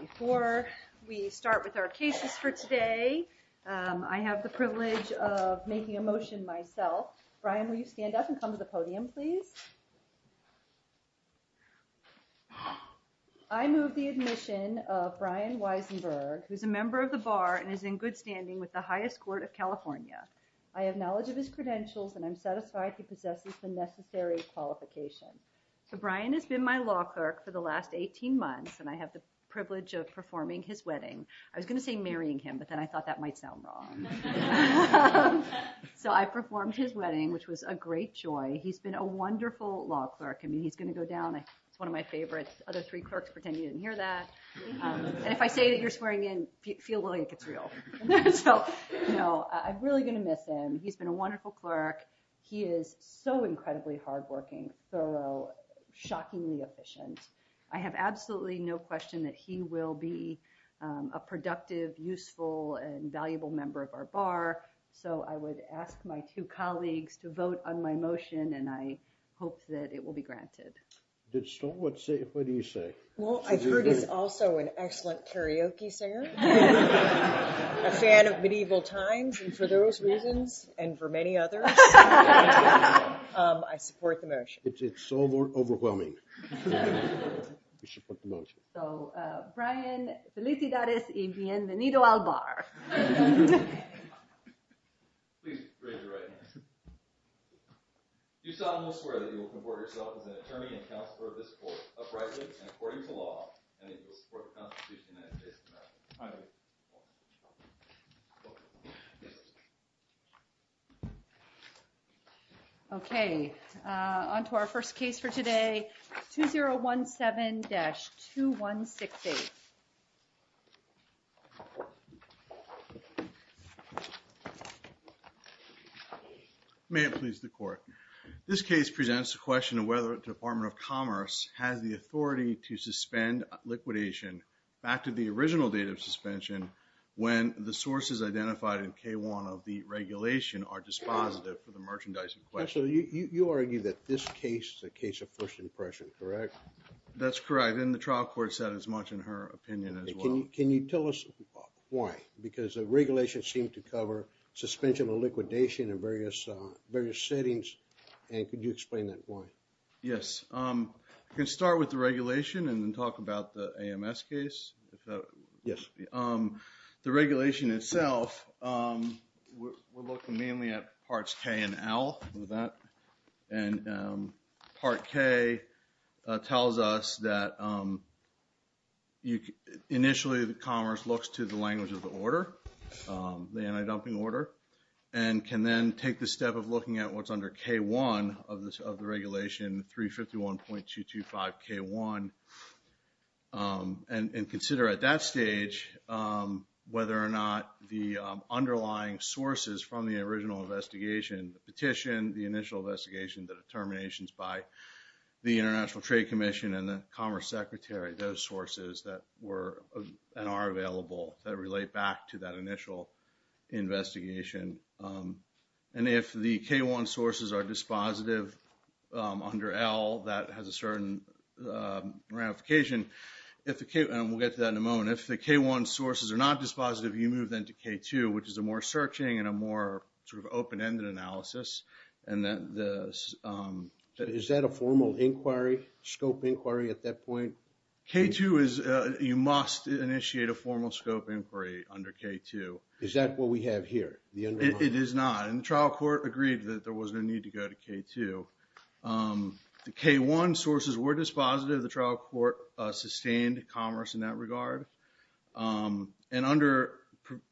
Before we start with our cases for today, I have the privilege of making a motion myself. Brian will you stand up and come to the podium please? I move the admission of Brian Weisenberg who's a member of the bar and is in good standing with the highest court of California. I have knowledge of his credentials and I'm satisfied he possesses the necessary qualification. So I have the privilege of performing his wedding. I was gonna say marrying him but then I thought that might sound wrong. So I performed his wedding which was a great joy. He's been a wonderful law clerk. I mean he's gonna go down. It's one of my favorites. Other three clerks pretend you didn't hear that. And if I say that you're swearing in, feel like it's real. I'm really gonna miss him. He's been a wonderful clerk. He is so incredibly hard-working, thorough, shockingly efficient. I have absolutely no question that he will be a productive, useful, and valuable member of our bar. So I would ask my two colleagues to vote on my motion and I hope that it will be granted. What do you say? Well I've heard he's also an excellent karaoke singer, a fan of Medieval Times and for those reasons, and for many others, I support the motion. It's so overwhelming. So Brian, felicidades y bienvenido al bar. Okay. On to our first case for today. 2017-2168. May it please the court. This case presents a question of whether the Department of Commerce has the authority to suspend liquidation back to the one of the regulation or dispositive for the merchandising question. So you argue that this case is a case of first impression, correct? That's correct. And the trial court said as much in her opinion as well. Can you tell us why? Because the regulation seemed to cover suspension of liquidation in various settings and could you explain that point? Yes. I can start with the regulation and then talk about the AMS case. Yes. The regulation itself, we're looking mainly at parts K and L. And part K tells us that initially the Commerce looks to the language of the order, the anti-dumping order, and can then take the step of looking at what's in part 225K1 and consider at that stage whether or not the underlying sources from the original investigation, the petition, the initial investigation, the determinations by the International Trade Commission and the Commerce Secretary, those sources that were and are available that relate back to that initial investigation. And if the K1 sources are dispositive under L, that has a certain ramification. And we'll get to that in a moment. If the K1 sources are not dispositive, you move then to K2, which is a more searching and a more sort of open-ended analysis. Is that a formal inquiry, scope inquiry at that point? K2 is, you must initiate a formal scope inquiry under K2. Is that what we have here? It is not. And the trial court agreed that there was no need to go to K2. The K1 sources were dispositive. The trial court sustained Commerce in that regard. And under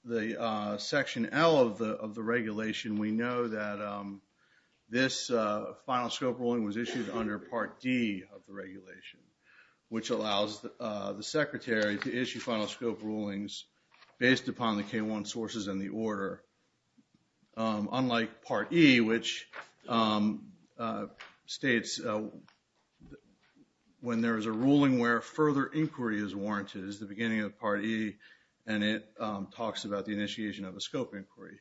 the Section L of the regulation, we know that this final scope ruling was issued under Part D of the regulation, which allows the Secretary to issue final scope rulings based upon the K1 sources and the states. When there is a ruling where further inquiry is warranted is the beginning of Part E, and it talks about the initiation of a scope inquiry.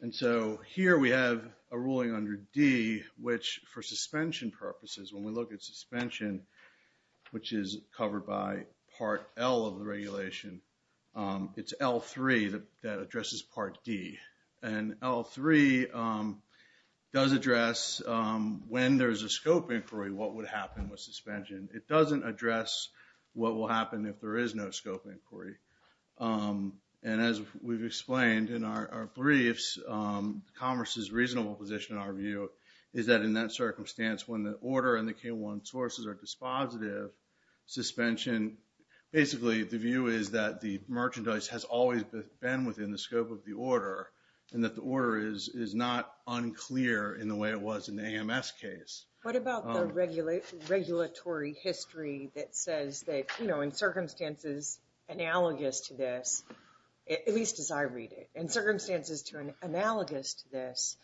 And so here we have a ruling under D, which for suspension purposes, when we look at suspension, which is covered by Part L of the regulation, it's L3 that addresses Part D. And L3 does address when there's a scope inquiry, what would happen with suspension. It doesn't address what will happen if there is no scope inquiry. And as we've explained in our briefs, Commerce's reasonable position, in our view, is that in that circumstance, when the order and the K1 sources are dispositive, suspension, basically the view is that the merchandise has always been within the scope of the order and that the order is not unclear in the way it was in the AMS case. What about the regulatory history that says that, you know, in circumstances analogous to this, at least as I read it, in circumstances to an analogous to this,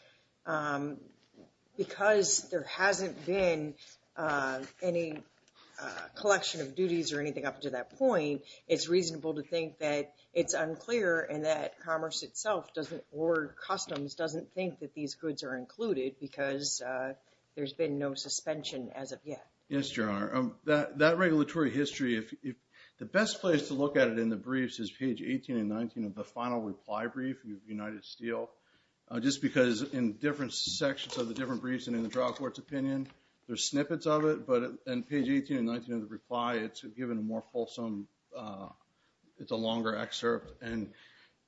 because there hasn't been any collection of duties or that Commerce itself or Customs doesn't think that these goods are included because there's been no suspension as of yet. Yes, Your Honor. That regulatory history, the best place to look at it in the briefs is page 18 and 19 of the final reply brief with United Steel. Just because in different sections of the different briefs and in the Drug Court's opinion, there's snippets of it. But on page 18 and 19 of the reply, it's given a more fulsome, it's a longer excerpt. And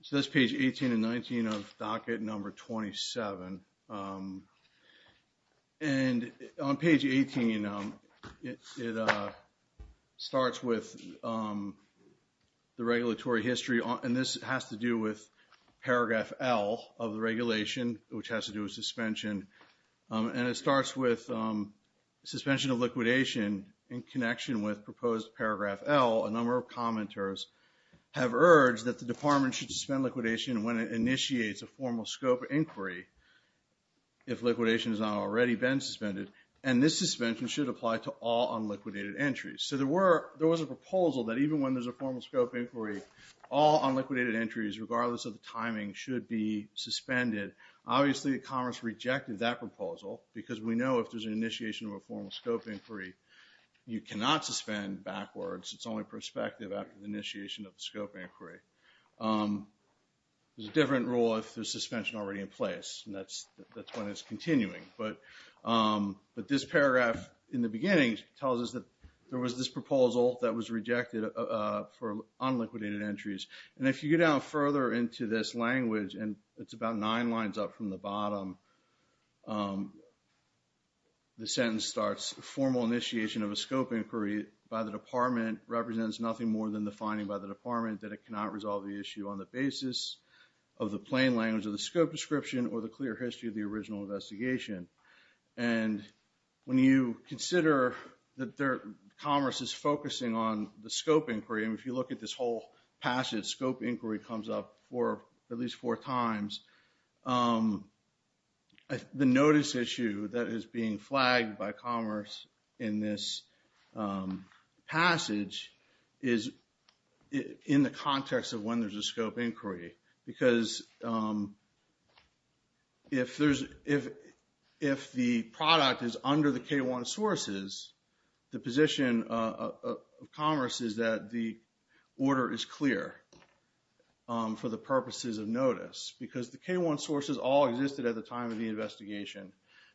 so that's page 18 and 19 of docket number 27. And on page 18, it starts with the regulatory history, and this has to do with paragraph L of the regulation, which has to do with suspension. And it goes to paragraph L. A number of commenters have urged that the department should suspend liquidation when it initiates a formal scope inquiry, if liquidation has not already been suspended. And this suspension should apply to all unliquidated entries. So there were, there was a proposal that even when there's a formal scope inquiry, all unliquidated entries, regardless of the timing, should be suspended. Obviously, Commerce rejected that proposal because we know if there's an initiation of a formal scope inquiry, you cannot suspend backwards. It's only prospective after the initiation of the scope inquiry. There's a different rule if there's suspension already in place, and that's when it's continuing. But this paragraph in the beginning tells us that there was this proposal that was rejected for unliquidated entries. And if you go down further into this language, and it's about nine lines up from the bottom, the sentence starts, formal initiation of a scope inquiry by the department represents nothing more than the finding by the department that it cannot resolve the issue on the basis of the plain language of the scope description or the clear history of the original investigation. And when you consider that Commerce is focusing on the scope inquiry, and if you look at this whole passage, scope inquiry comes up for at least four times, and the notice issue that is being flagged by Commerce in this passage is in the context of when there's a scope inquiry. Because if the product is under the K-1 sources, the position of Commerce is that the order is clear for the purposes of notice. Because the K-1 sources all existed at the time of the investigation.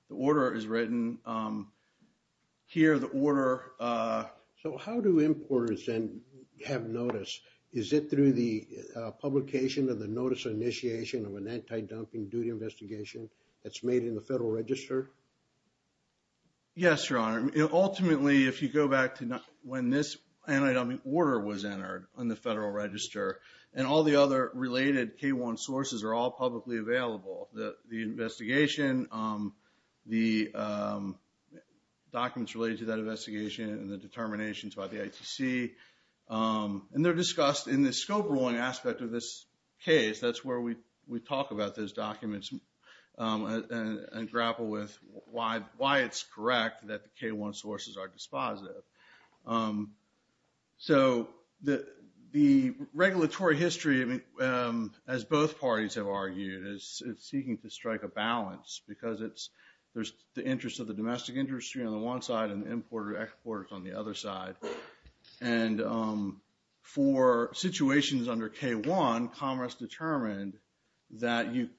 The order is written here. So how do importers then have notice? Is it through the publication of the notice of initiation of an anti-dumping duty investigation that's made in the Federal Register? Yes, Your Honor. Ultimately, if you go back to when this anti-dumping order was entered on the Federal Register, and all the other related K-1 sources are all publicly available. The investigation, the documents related to that investigation, and the determinations by the ITC, and they're discussed in the scope ruling aspect of this case. That's where we talk about those documents and grapple with why it's correct that K-1 sources are dispositive. So the regulatory history, as both parties have argued, is seeking to strike a balance. Because there's the interest of the domestic industry on the one side and importer-exporters on the other side. And for situations under K-1, Commerce determined that you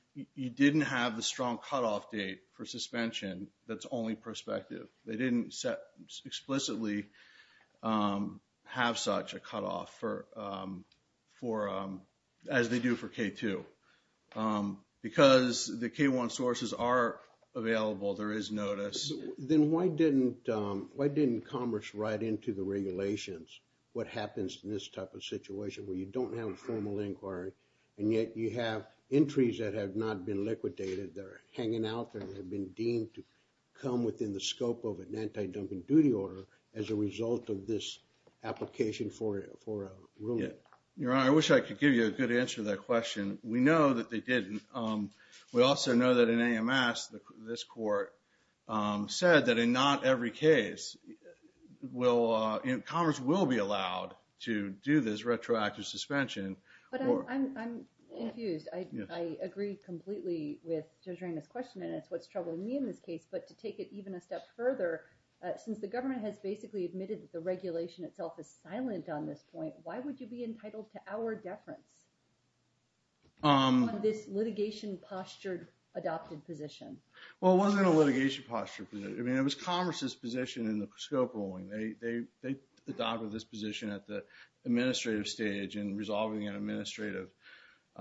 didn't have the strong cutoff date for suspension that's only prospective. They didn't explicitly have such a cutoff as they do for K-2. Because the K-1 sources are available, there is notice. Then why didn't Commerce write into the regulations what happens in this type situation where you don't have a formal inquiry, and yet you have entries that have not been liquidated. They're hanging out there. They've been deemed to come within the scope of an anti-dumping duty order as a result of this application for a ruling. Your Honor, I wish I could give you a good answer to that question. We know that they didn't. We also know that in AMS, this court said that in not every case, Commerce will be allowed to do this retroactive suspension. But I'm confused. I agree completely with Judge Reyna's question, and that's what's troubling me in this case. But to take it even a step further, since the government has basically admitted that the regulation itself is silent on this point, why would you be entitled to hour deference on this litigation-postured adopted position? Well, it wasn't a litigation-postured position. I mean, it was Commerce's position in the scope ruling. They adopted this position at the administrative stage in resolving an administrative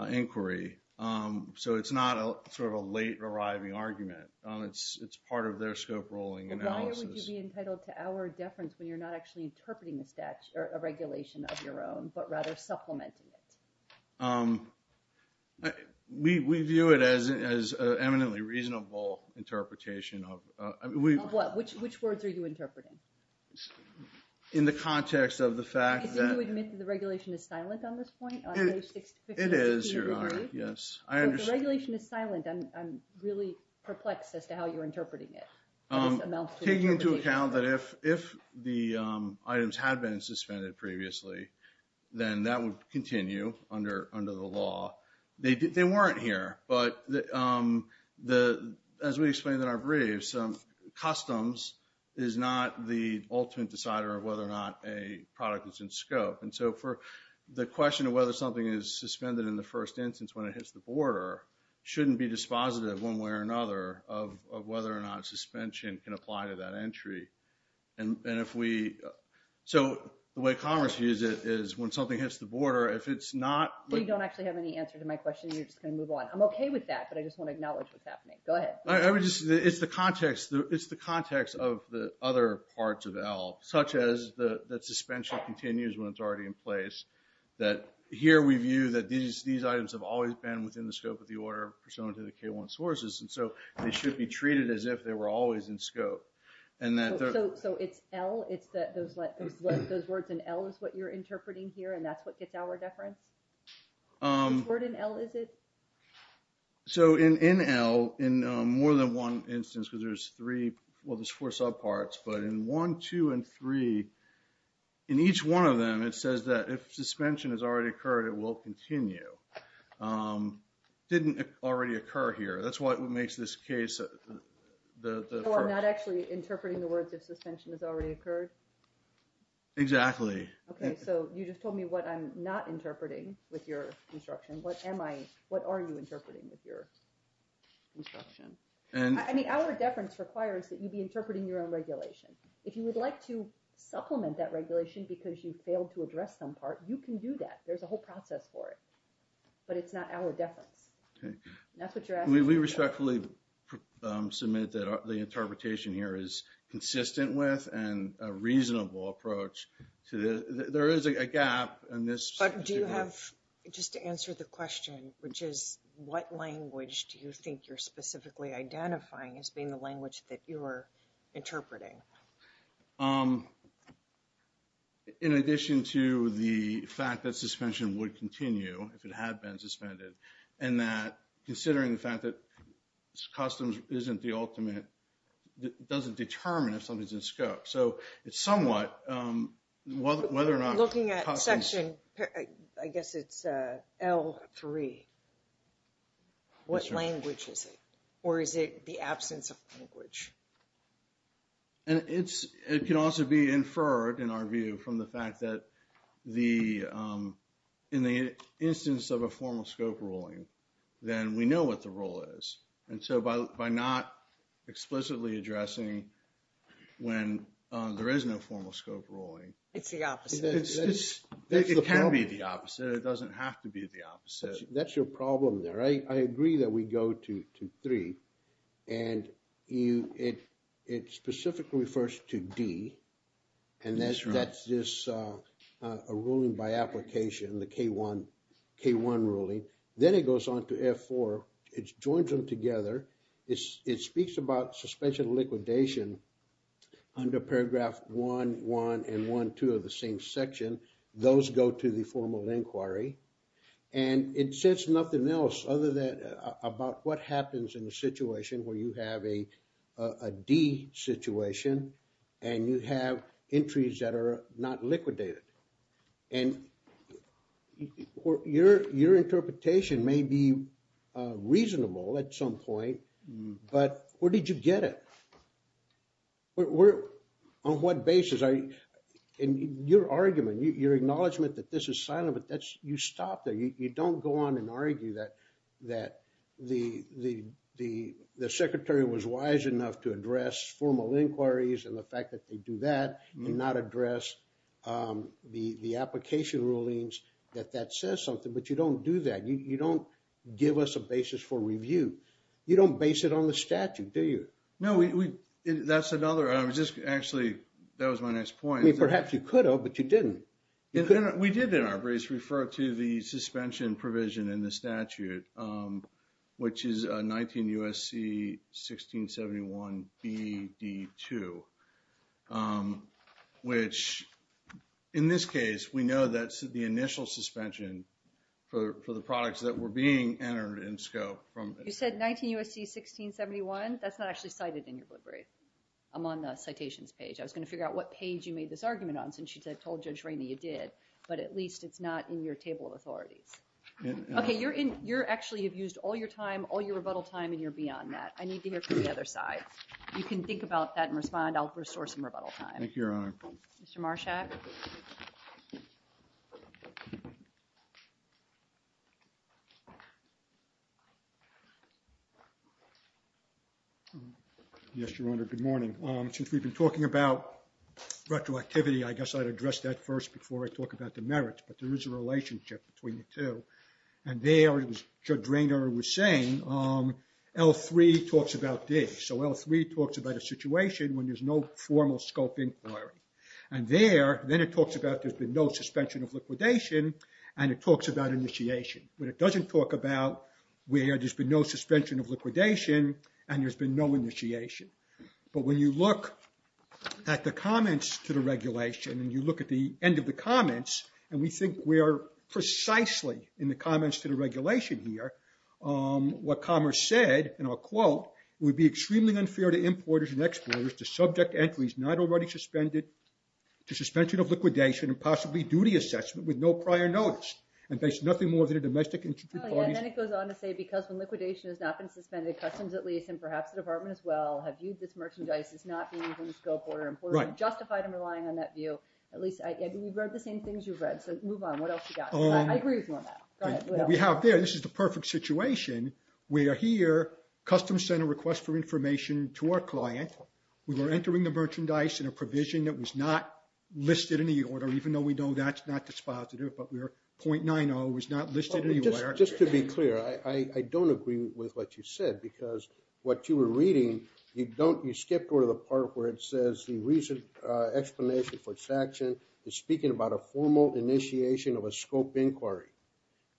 inquiry. So it's not sort of a late-arriving argument. It's part of their scope ruling analysis. Why would you be entitled to hour deference when you're not actually interpreting a regulation of your own, but rather supplementing it? We view it as an eminently reasonable interpretation. Of what? Which words are you interpreting? In the context of the fact that... I think you admit that the regulation is silent on this point? It is, Your Honor, yes. The regulation is silent. I'm really perplexed as to how you're interpreting it. Taking into account that if the items had been suspended previously, then that would continue under the law. They weren't here, but as we explained in our briefs, customs is not the ultimate decider of whether or not a product is in scope. And so for the question of whether something is suspended in the first instance when it hits the border shouldn't be dispositive one way or another of whether or not suspension can apply to that entry. And if we... So the way Congress views it is when something hits the border, if it's not... Well, you don't actually have any answer to my question. You're just going to move on. I'm okay with that, but I just want to acknowledge what's happening. Go ahead. I would just... It's the context. It's the context of the other parts of ELL, such as that suspension continues when it's already in place. That here we view that these items have always been within the scope of the order pursuant to the K-1 sources, and so they should be treated as if they were always in scope. And that... So it's ELL? It's those words in ELL is what you're interpreting here, and that's what gets our deference? Which word in ELL is it? So in ELL, in more than one instance, because there's three... Well, there's four subparts, but in one, two, and three, in each one of them, it says that if suspension has already occurred, it will continue. Didn't already occur here. That's what makes this case... I'm not actually interpreting the words if suspension has already occurred? Exactly. Okay, so you just told me what I'm not interpreting with your instruction. What am I... What are you interpreting with your instruction? I mean, our deference requires that you be interpreting your own regulation. If you would like to supplement that regulation because you failed to address some part, you can do that. There's a whole process for it, but it's not our deference. That's what you're interpreting. I respectfully submit that the interpretation here is consistent with and a reasonable approach to this. There is a gap in this... But do you have... Just to answer the question, which is, what language do you think you're specifically identifying as being the language that you're interpreting? In addition to the fact that suspension would continue if it had been suspended, and that considering the fact that customs isn't the ultimate... Doesn't determine if something's in scope. So it's somewhat whether or not... Looking at section, I guess it's L3. What language is it? Or is it the absence of language? And it can also be inferred in our view from the fact that in the instance of a formal scope, then we know what the role is. And so by not explicitly addressing when there is no formal scope ruling... It's the opposite. It's just... It can be the opposite. It doesn't have to be the opposite. That's your problem there. I agree that we go to L3, and it specifically refers to D, and that's just a ruling by application, the K1 ruling. Then it goes on to F4. It joins them together. It speaks about suspension and liquidation under paragraph 1.1 and 1.2 of the same section. Those go to the formal inquiry. And it says nothing else other than about what happens in the situation where you have a D situation and you have entries that are not liquidated. And your interpretation may be reasonable at some point, but where did you get it? On what basis are you... And your argument, your acknowledgement that this is silent, but that's... You stop there. You don't go on and argue that the secretary was wise enough to address formal inquiries and the fact that they do that and not address the application rulings that that says something, but you don't do that. You don't give us a basis for review. You don't base it on the statute, do you? No, that's another... Actually, that was my next point. Perhaps you could have, but you didn't. We did in our briefs refer to the suspension provision in the statute, which is 19 U.S.C. 1671 B.D. 2, which, in this case, we know that's the initial suspension for the products that were being entered in scope from... You said 19 U.S.C. 1671? That's not actually cited in your book brief. I'm on the citations page. I was going to figure out what page you made this argument on since you told Judge Rainey you did, but at least it's not in your table of authorities. Okay, you're actually... You've used all your time, all your rebuttal time, and you're beyond that. I need to hear from the other side. You can think about that and respond. I'll restore some rebuttal time. Thank you, Your Honor. Mr. Marshak? Yes, Your Honor. Good morning. Since we've been talking about retroactivity, I guess I'd address that first before I talk about the merits, but there is a relationship between the two. And there, as Judge Rainey was saying, L3 talks about this. So L3 talks about a situation when there's no formal scope inquiry. And there, then it talks about there's been no suspension of liquidation, and it talks about initiation, but it doesn't talk about where there's been no suspension of liquidation and there's been no initiation. But when you look at the comments to the regulation, and you look at the end of the comments, and we think we're precisely in the comments to the regulation here, what Commerce said, and I'll quote, would be extremely unfair to importers and exporters to subject entries not already suspended to suspension of liquidation and possibly duty assessment with no prior notice. And there's nothing more than a domestic... And then it goes on to say, because when liquidation has not been suspended, customs at least, and perhaps the department as well, have viewed this merchandise as not being in scope or important, justified in relying on that view. At least, I mean, you've read the same things you've read. So move on. What else you got? I agree with you on that. What we have there, this is the perfect situation. We are here, Customs sent a request for information to our client. We were entering the merchandise in a provision that was not listed in the order, even though we know that's not dispositive, but we're 0.90, was not listed anywhere. Just to be clear, I don't agree with what you said, because what you were reading, you don't, you skipped over the part where it says the recent explanation for sanction is speaking about a formal initiation of a scope inquiry.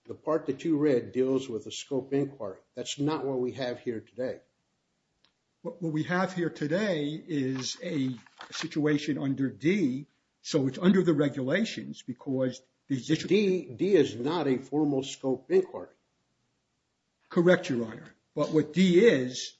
The part that you read deals with a scope inquiry. That's not what we have here today. What we have here today is a situation under D. So it's under the regulations because... D is not a formal scope inquiry. Correct, Your Honor. But what D is,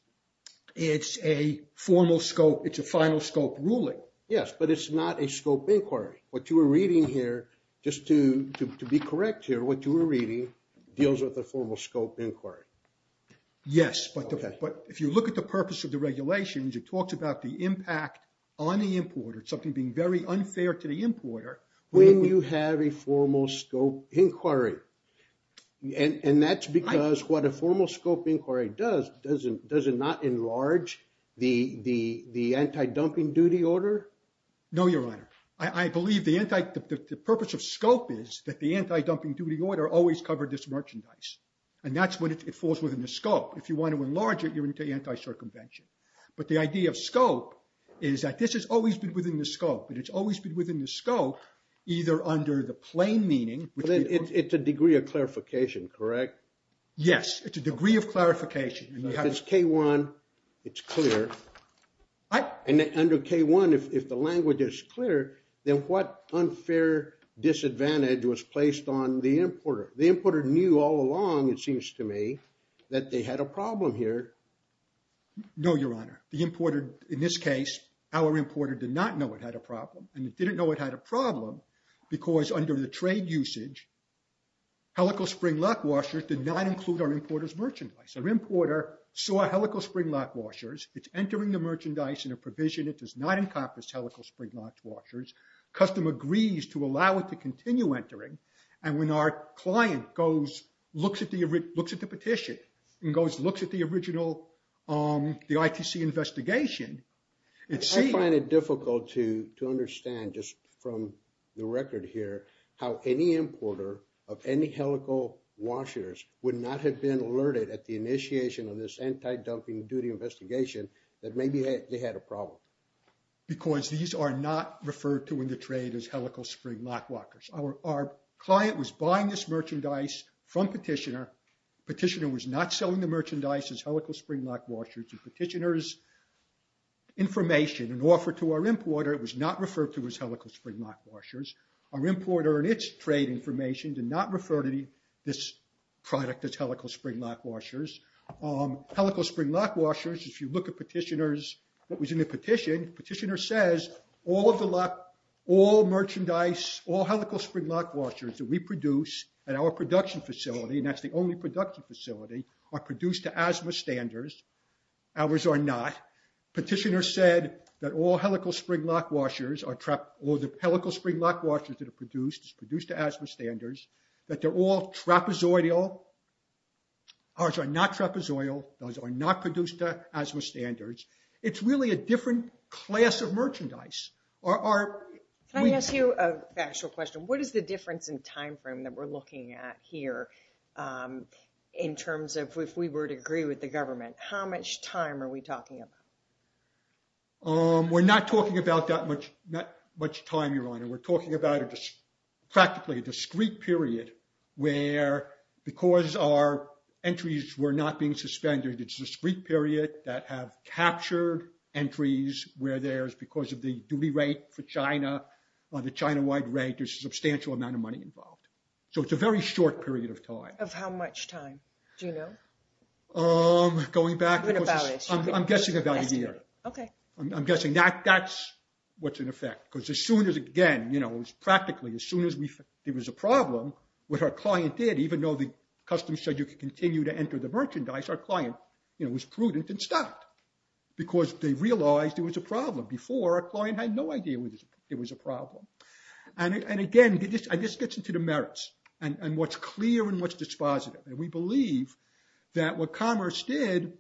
it's a formal scope, it's a final scope ruling. Yes, but it's not a scope inquiry. What you were reading here, just to be correct here, what you were reading deals with a formal scope inquiry. Yes, but if you look at the purpose of the regulations, it talks about the impact on the importer, something being very unfair to the importer. When you have a formal scope inquiry, and that's because what a formal scope inquiry does, does it not enlarge the anti-dumping duty order? No, Your Honor. I believe the purpose of scope is that the anti-dumping duty order always covered this merchandise. And that's when it falls within the scope. If you want to enlarge it, you're into anti-circumvention. But the idea of scope is that this has always been within the scope, and it's always been within the scope, either under the plain meaning... But then it's a degree of clarification, correct? Yes, it's a degree of clarification. If it's K1, it's clear. And under K1, if the language is clear, then what unfair disadvantage was placed on the importer? The importer knew all along, it seems to me, that they had a problem here. No, Your Honor. The importer, in this case, our importer did not know it had a problem. And it didn't know it had a problem because under the trade usage, helical spring lock washers did not include our importer's merchandise. Our importer saw helical spring lock washers. It's entering the merchandise in a provision that does not encompass helical spring lock washers. Customer agrees to allow it to continue entering. And when our client looks at the petition and looks at the original, the ITC investigation... I find it difficult to understand just from the record here, how any importer of any helical washers would not have been alerted at the initiation of this anti-dumping duty investigation that maybe they had a problem. Because these are not referred to in the trade as helical spring lock washers. Our client was buying this merchandise from Petitioner. Petitioner was not selling the merchandise as helical spring lock washers. Petitioner's information and offer to our importer was not referred to as helical spring lock washers. Our importer and its trade information did not refer to this product as helical spring lock washers. Helical spring lock washers, if you look at Petitioner's, what was in the petition, Petitioner says all of the lock, all merchandise, all helical spring lock washers that we produce at our production facility, and that's the only production facility, are produced to asthma standards. Ours are not. Petitioner said that all helical spring lock washers are trap... All the helical spring lock washers that are produced is produced to asthma standards, that they're all trapezoidal. Ours are not trapezoidal. Those are not produced to asthma standards. It's really a different class of merchandise. Can I ask you a factual question? What is the difference in time frame that we're looking at here in terms of if we were to agree with the government? How much time are we talking about? We're not talking about that much time, Your Honor. We're talking about practically a discrete period where, because our entries were not being suspended, it's a discrete period that have captured entries where there's, because of the duty rate for China, or the China-wide rate, there's a substantial amount of money involved. So it's a very short period of time. Of how much time? Do you know? Going back... I'm going to balance. I'm guessing about a year. Okay. I'm guessing that that's what's in effect, because as soon as, again, it was practically, as soon as there was a problem, what our client did, even though the customs said you could enter the merchandise, our client was prudent and stopped because they realized there was a problem. Before, our client had no idea it was a problem. And again, this gets into the merits and what's clear and what's dispositive. And we believe that what Commerce did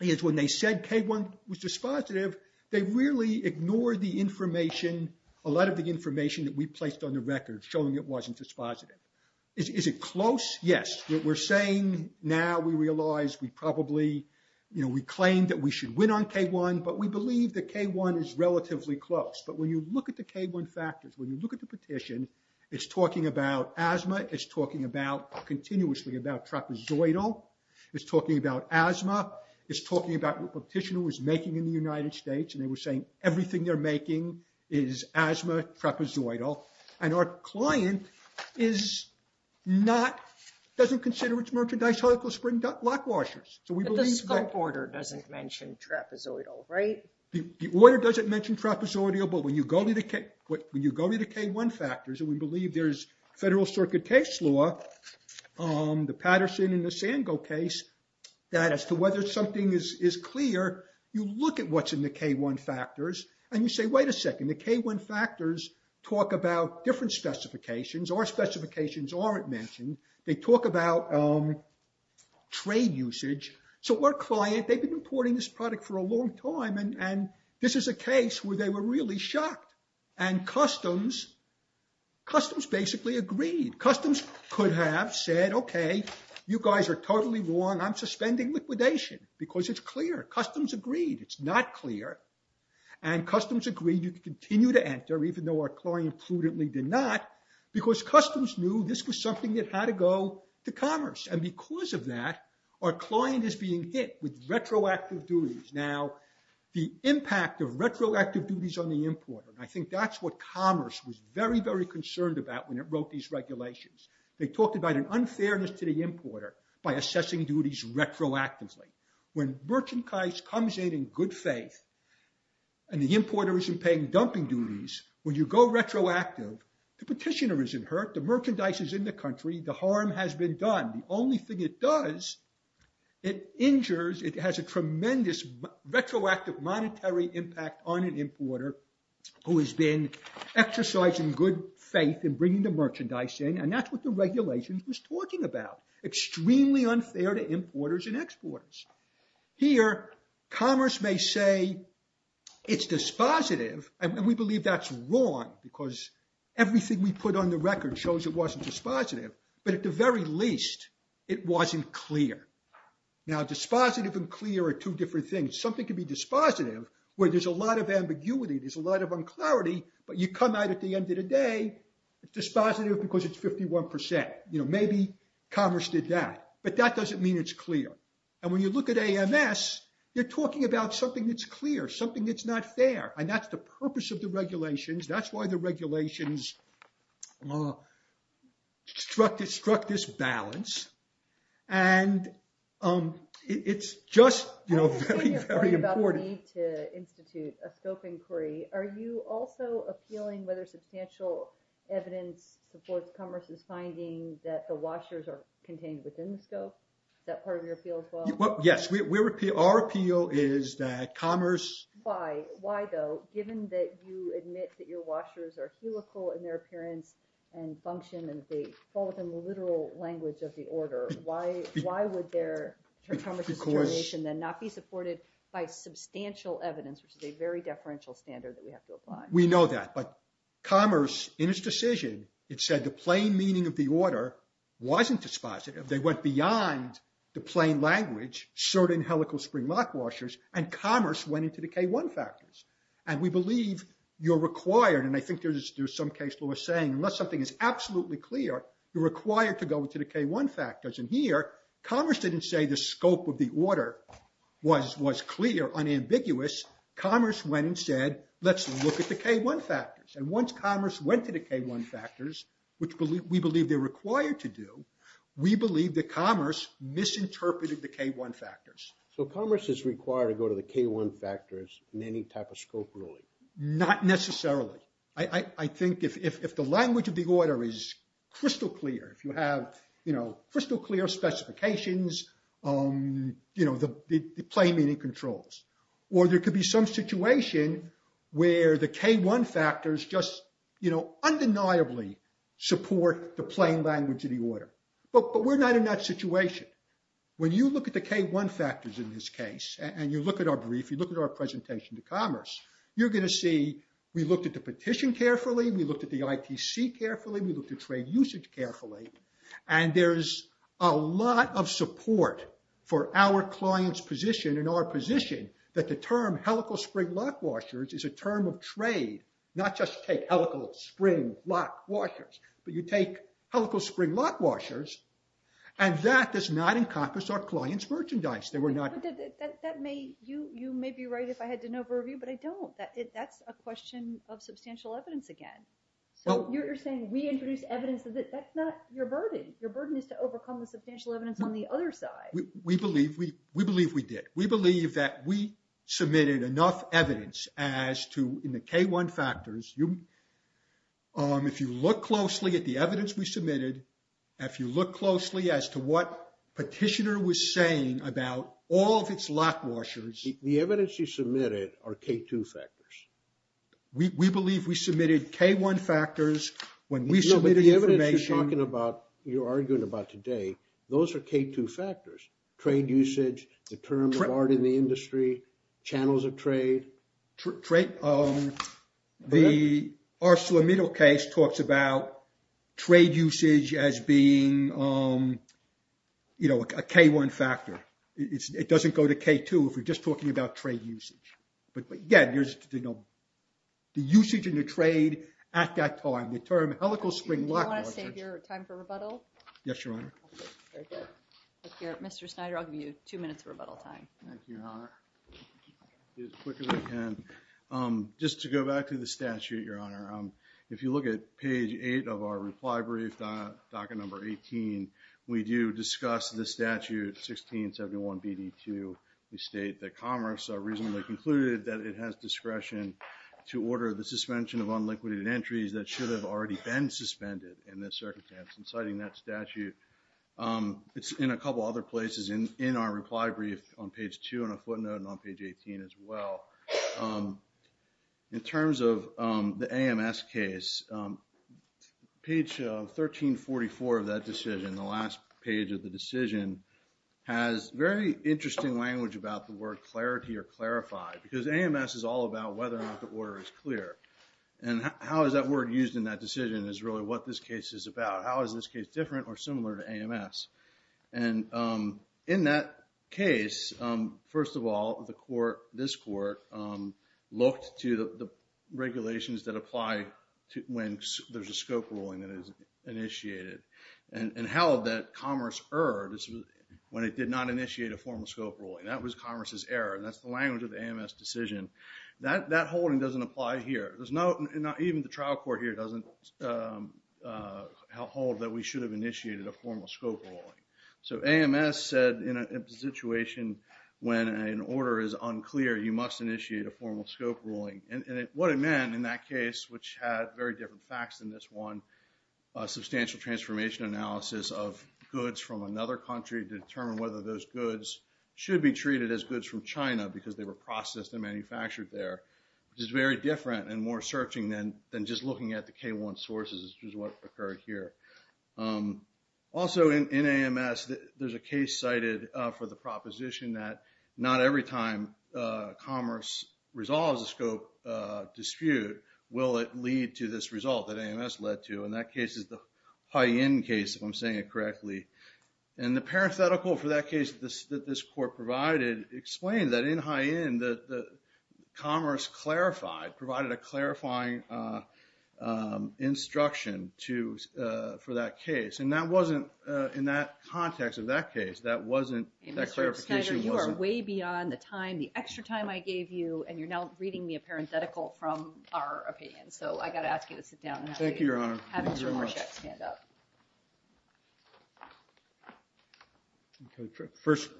is when they said K1 was dispositive, they really ignored the information, a lot of the information that we placed on the record showing it wasn't dispositive. Is it close? Yes. What we're saying now, we realize we probably, we claim that we should win on K1, but we believe that K1 is relatively close. But when you look at the K1 factors, when you look at the petition, it's talking about asthma, it's talking about continuously about trapezoidal, it's talking about asthma, it's talking about what the petitioner was making in the United States, and they were saying everything they're making is asthma, trapezoidal. And our client is not, doesn't consider its merchandise helical spring lock washers. But the scope order doesn't mention trapezoidal, right? The order doesn't mention trapezoidal, but when you go to the K1 factors, and we believe there's federal circuit case law, the Patterson and the Sango case, that as to whether something is clear, you look at what's in the K1 factors, and you say, wait a second, the K1 factors talk about different specifications. Our specifications aren't mentioned. They talk about trade usage. So our client, they've been importing this product for a long time. And this is a case where they were really shocked. And customs basically agreed. Customs could have said, okay, you guys are totally wrong. I'm suspending liquidation because it's clear. Customs agreed it's not clear. And customs agreed you could continue to enter, even though our client prudently did not, because customs knew this was something that had to go to commerce. And because of that, our client is being hit with retroactive duties. Now, the impact of retroactive duties on the importer, I think that's what commerce was very, very concerned about when it wrote these regulations. They talked about an unfairness to the importer by assessing duties retroactively. When merchandise comes in in good faith, and the importer isn't paying dumping duties, when you go retroactive, the petitioner isn't hurt. The merchandise is in the country. The harm has been done. The only thing it does, it injures, it has a tremendous retroactive monetary impact on an importer who has been exercising good faith in bringing the merchandise in. And that's what the regulation was talking about. Extremely unfair to importers and exporters. Here, commerce may say, it's dispositive. And we believe that's wrong because everything we put on the record shows it wasn't dispositive. But at the very least, it wasn't clear. Now, dispositive and clear are two different things. Something could be dispositive, where there's a lot of ambiguity, there's a lot of unclarity, but you come out at the end of the day, it's dispositive because it's 51%. Maybe commerce did that, but that doesn't mean it's clear. And when you look at AMS, you're talking about something that's clear, something that's not fair. And that's the purpose of the regulations. That's why the regulations struck this balance. And it's just very, very important. When you're talking about the need to evidence supports commerce's finding that the washers are contained within the scope, that part of your appeal as well? Yes, our appeal is that commerce... Why? Why though, given that you admit that your washers are helical in their appearance and function and they fall within the literal language of the order, why would their commerce's determination then not be supported by substantial evidence, which is a very deferential standard that we have to apply? We know that, but commerce in its decision, it said the plain meaning of the order wasn't dispositive. They went beyond the plain language, certain helical spring lock washers, and commerce went into the K1 factors. And we believe you're required, and I think there's some case law saying, unless something is absolutely clear, you're required to go into the K1 factors. And here, commerce didn't say the scope of the order was clear, unambiguous. Commerce went and said, let's look at the K1 factors. And once commerce went to the K1 factors, which we believe they're required to do, we believe that commerce misinterpreted the K1 factors. So commerce is required to go to the K1 factors in any type of scope ruling? Not necessarily. I think if the language of the order is crystal clear, if you have crystal clear specifications, the plain meaning controls. Or there could be some situation where the K1 factors just undeniably support the plain language of the order. But we're not in that situation. When you look at the K1 factors in this case, and you look at our brief, you look at our presentation to commerce, you're going to see, we looked at the petition carefully, we looked at the ITC carefully, we looked at trade usage carefully. And there's a lot of support for our client's position and our position that the term helical spring lock washers is a term of trade, not just take helical spring lock washers. But you take helical spring lock washers, and that does not encompass our client's merchandise. They were not... You may be right if I had to over-review, but I don't. That's a question of substantial evidence again. So you're saying we introduced evidence, that's not your burden. Your burden is to overcome the substantial evidence on the other side. We believe we did. We believe that we submitted enough evidence as to, in the K1 factors, if you look closely at the evidence we submitted, if you look closely as to what petitioner was saying about all of its lock washers... The evidence you submitted are K2 factors. We believe we submitted K1 factors when we submitted the information... No, but the evidence you're talking about, you're arguing about today, those are K2 factors, trade usage, the term of art in the industry, channels of trade. The ArcelorMittal case talks about trade usage as being a K1 factor. It doesn't go to K2 if you're just talking about trade usage. But again, the usage in the trade at that time, the term helical spring lock washers... Do you want to save your time for rebuttal? Yes, Your Honor. Very good. Mr. Snyder, I'll give you two minutes of rebuttal time. Thank you, Your Honor. I'll do it as quick as I can. Just to go back to the statute, Your Honor, if you look at page eight of our reply brief, docket number 18, we do discuss the statute 1671BD2. We state that commerce are reasonably concluded that it has discretion to order the suspension of unliquidated entries that should have already been suspended in this circumstance. And citing that statute, it's in a couple other places in our reply brief on page two and a footnote and on page 18 as well. In terms of the AMS case, page 1344 of that decision, the last page of the decision has very interesting language about the word clarity or clarified, because AMS is all about whether or not the order is clear. And how is that word used in that decision is really what this case is about. How is this case different or similar to AMS? And in that case, first of all, this court looked to the regulations that apply when there's a scope ruling that is initiated and held that commerce erred when it did not initiate a formal scope ruling. That was commerce's error. That's the language of the AMS decision. That holding doesn't apply here. Even the trial court here doesn't hold that we should have initiated a formal scope ruling. So AMS said in a situation when an order is unclear, you must initiate a formal scope ruling. And what it meant in that case, which had very different facts than this one, a substantial transformation analysis of goods from another country to determine whether those goods should be treated as goods from China because they were processed and manufactured there, which is very different and more searching than just looking at the K1 sources, which is what occurred here. Also in AMS, there's a case cited for the proposition that not every time commerce resolves a scope dispute will it lead to this result that AMS led to. And that case is the high-end case, if I'm saying it correctly. And the parenthetical for that case that this court provided explained that in high-end, commerce provided a clarifying instruction for that case. And in that context of that case, that clarification wasn't... Mr. Snyder, you are way beyond the time, the extra time I gave you, and you're now reading me a parenthetical from our opinion. So I got to ask you to sit down. Thank you, Your Honor. First,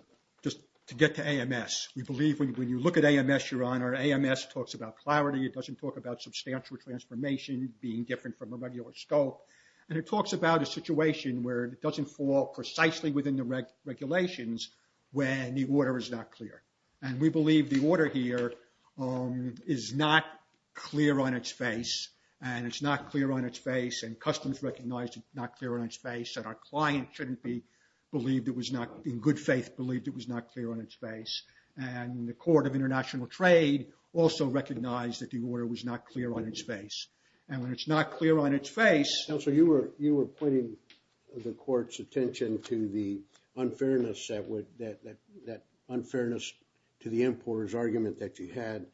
just to get to AMS, we believe when you look at AMS, Your Honor, AMS talks about clarity. It doesn't talk about substantial transformation being different from a regular scope. And it when the order is not clear. And we believe the order here is not clear on its face, and it's not clear on its face, and customs recognized it's not clear on its face, and our client shouldn't be believed it was not, in good faith, believed it was not clear on its face. And the Court of International Trade also recognized that the order was not clear on its face. And when it's not clear on its face... Counselor, you were pointing the court's unfairness to the importer's argument that you had.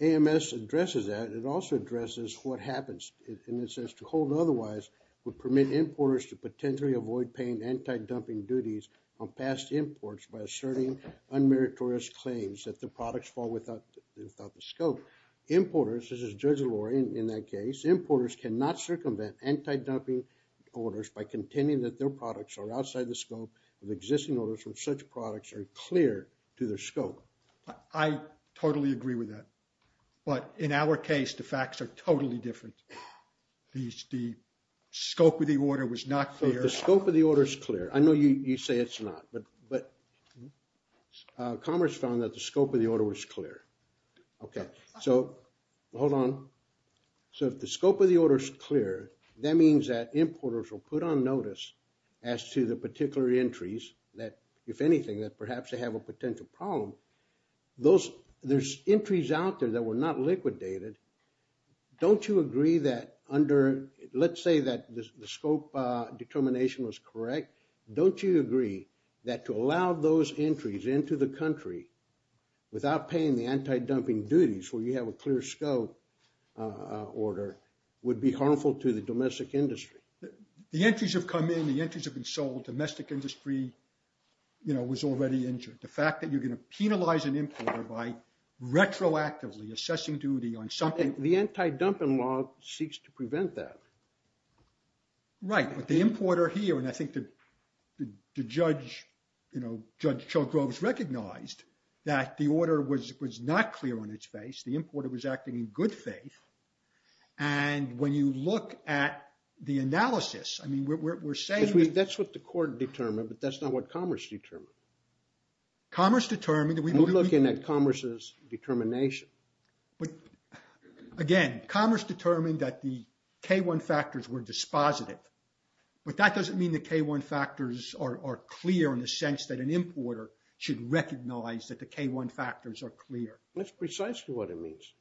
AMS addresses that. It also addresses what happens, in a sense, to hold otherwise would permit importers to potentially avoid paying anti-dumping duties on past imports by asserting unmeritorious claims that the products fall without the scope. Importers, this is Judge Allure in that case, importers cannot circumvent anti-dumping orders by contending that their products are outside the scope of existing orders when such products are clear to their scope. I totally agree with that. But in our case, the facts are totally different. The scope of the order was not clear. The scope of the order is clear. I know you say it's not, but Commerce found that the scope of the order was clear. Okay. So, hold on. So, if the scope of the order is clear, that means that importers will put on notice as to the particular entries that, if anything, that perhaps they have a potential problem. Those, there's entries out there that were not liquidated. Don't you agree that under, let's say that the scope determination was correct, don't you agree that to allow those entries into the country without paying the anti-dumping duties where you have a clear scope order would be harmful to the domestic industry? The entries have come in. The entries have been sold. Domestic industry, you know, was already injured. The fact that you're going to penalize an importer by retroactively assessing duty on something. The anti-dumping law seeks to prevent that. Right. But the importer here, and I think the judge, you know, Judge Shultz-Groves recognized that the order was not clear on its face. The importer was acting in good faith. And when you look at the analysis, I mean, we're saying- That's what the court determined, but that's not what Commerce determined. Commerce determined that we- We're looking at Commerce's determination. But again, Commerce determined that the K-1 factors were dispositive, but that doesn't mean the K-1 factors are clear in the sense that an importer should recognize that the K-1 factors are clear. That's precisely what it means.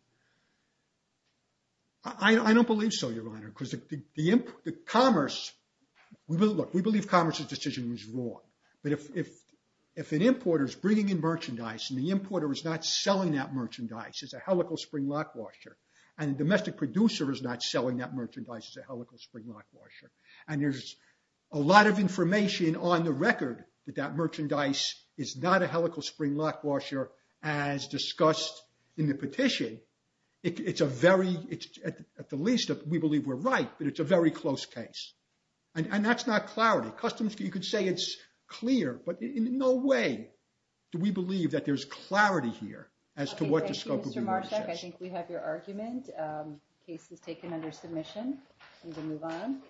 I don't believe so, Your Honor, because the Commerce- Look, we believe Commerce's decision was wrong. But if an importer is bringing in merchandise and the importer is not selling that merchandise as a helical spring lock washer, and the domestic producer is not selling that merchandise as a helical spring lock washer, and there's a lot of information on the record that that merchandise is not a helical spring lock washer as discussed in the petition, it's a very- At the least, we believe we're right, but it's a very close case. And that's not clarity. Customs, you could say it's clear, but in no way do we believe that there's clarity here as to what the scope of the- Okay, thank you, Mr. Marshak. I think we have your argument. Case is taken under submission. We can move on.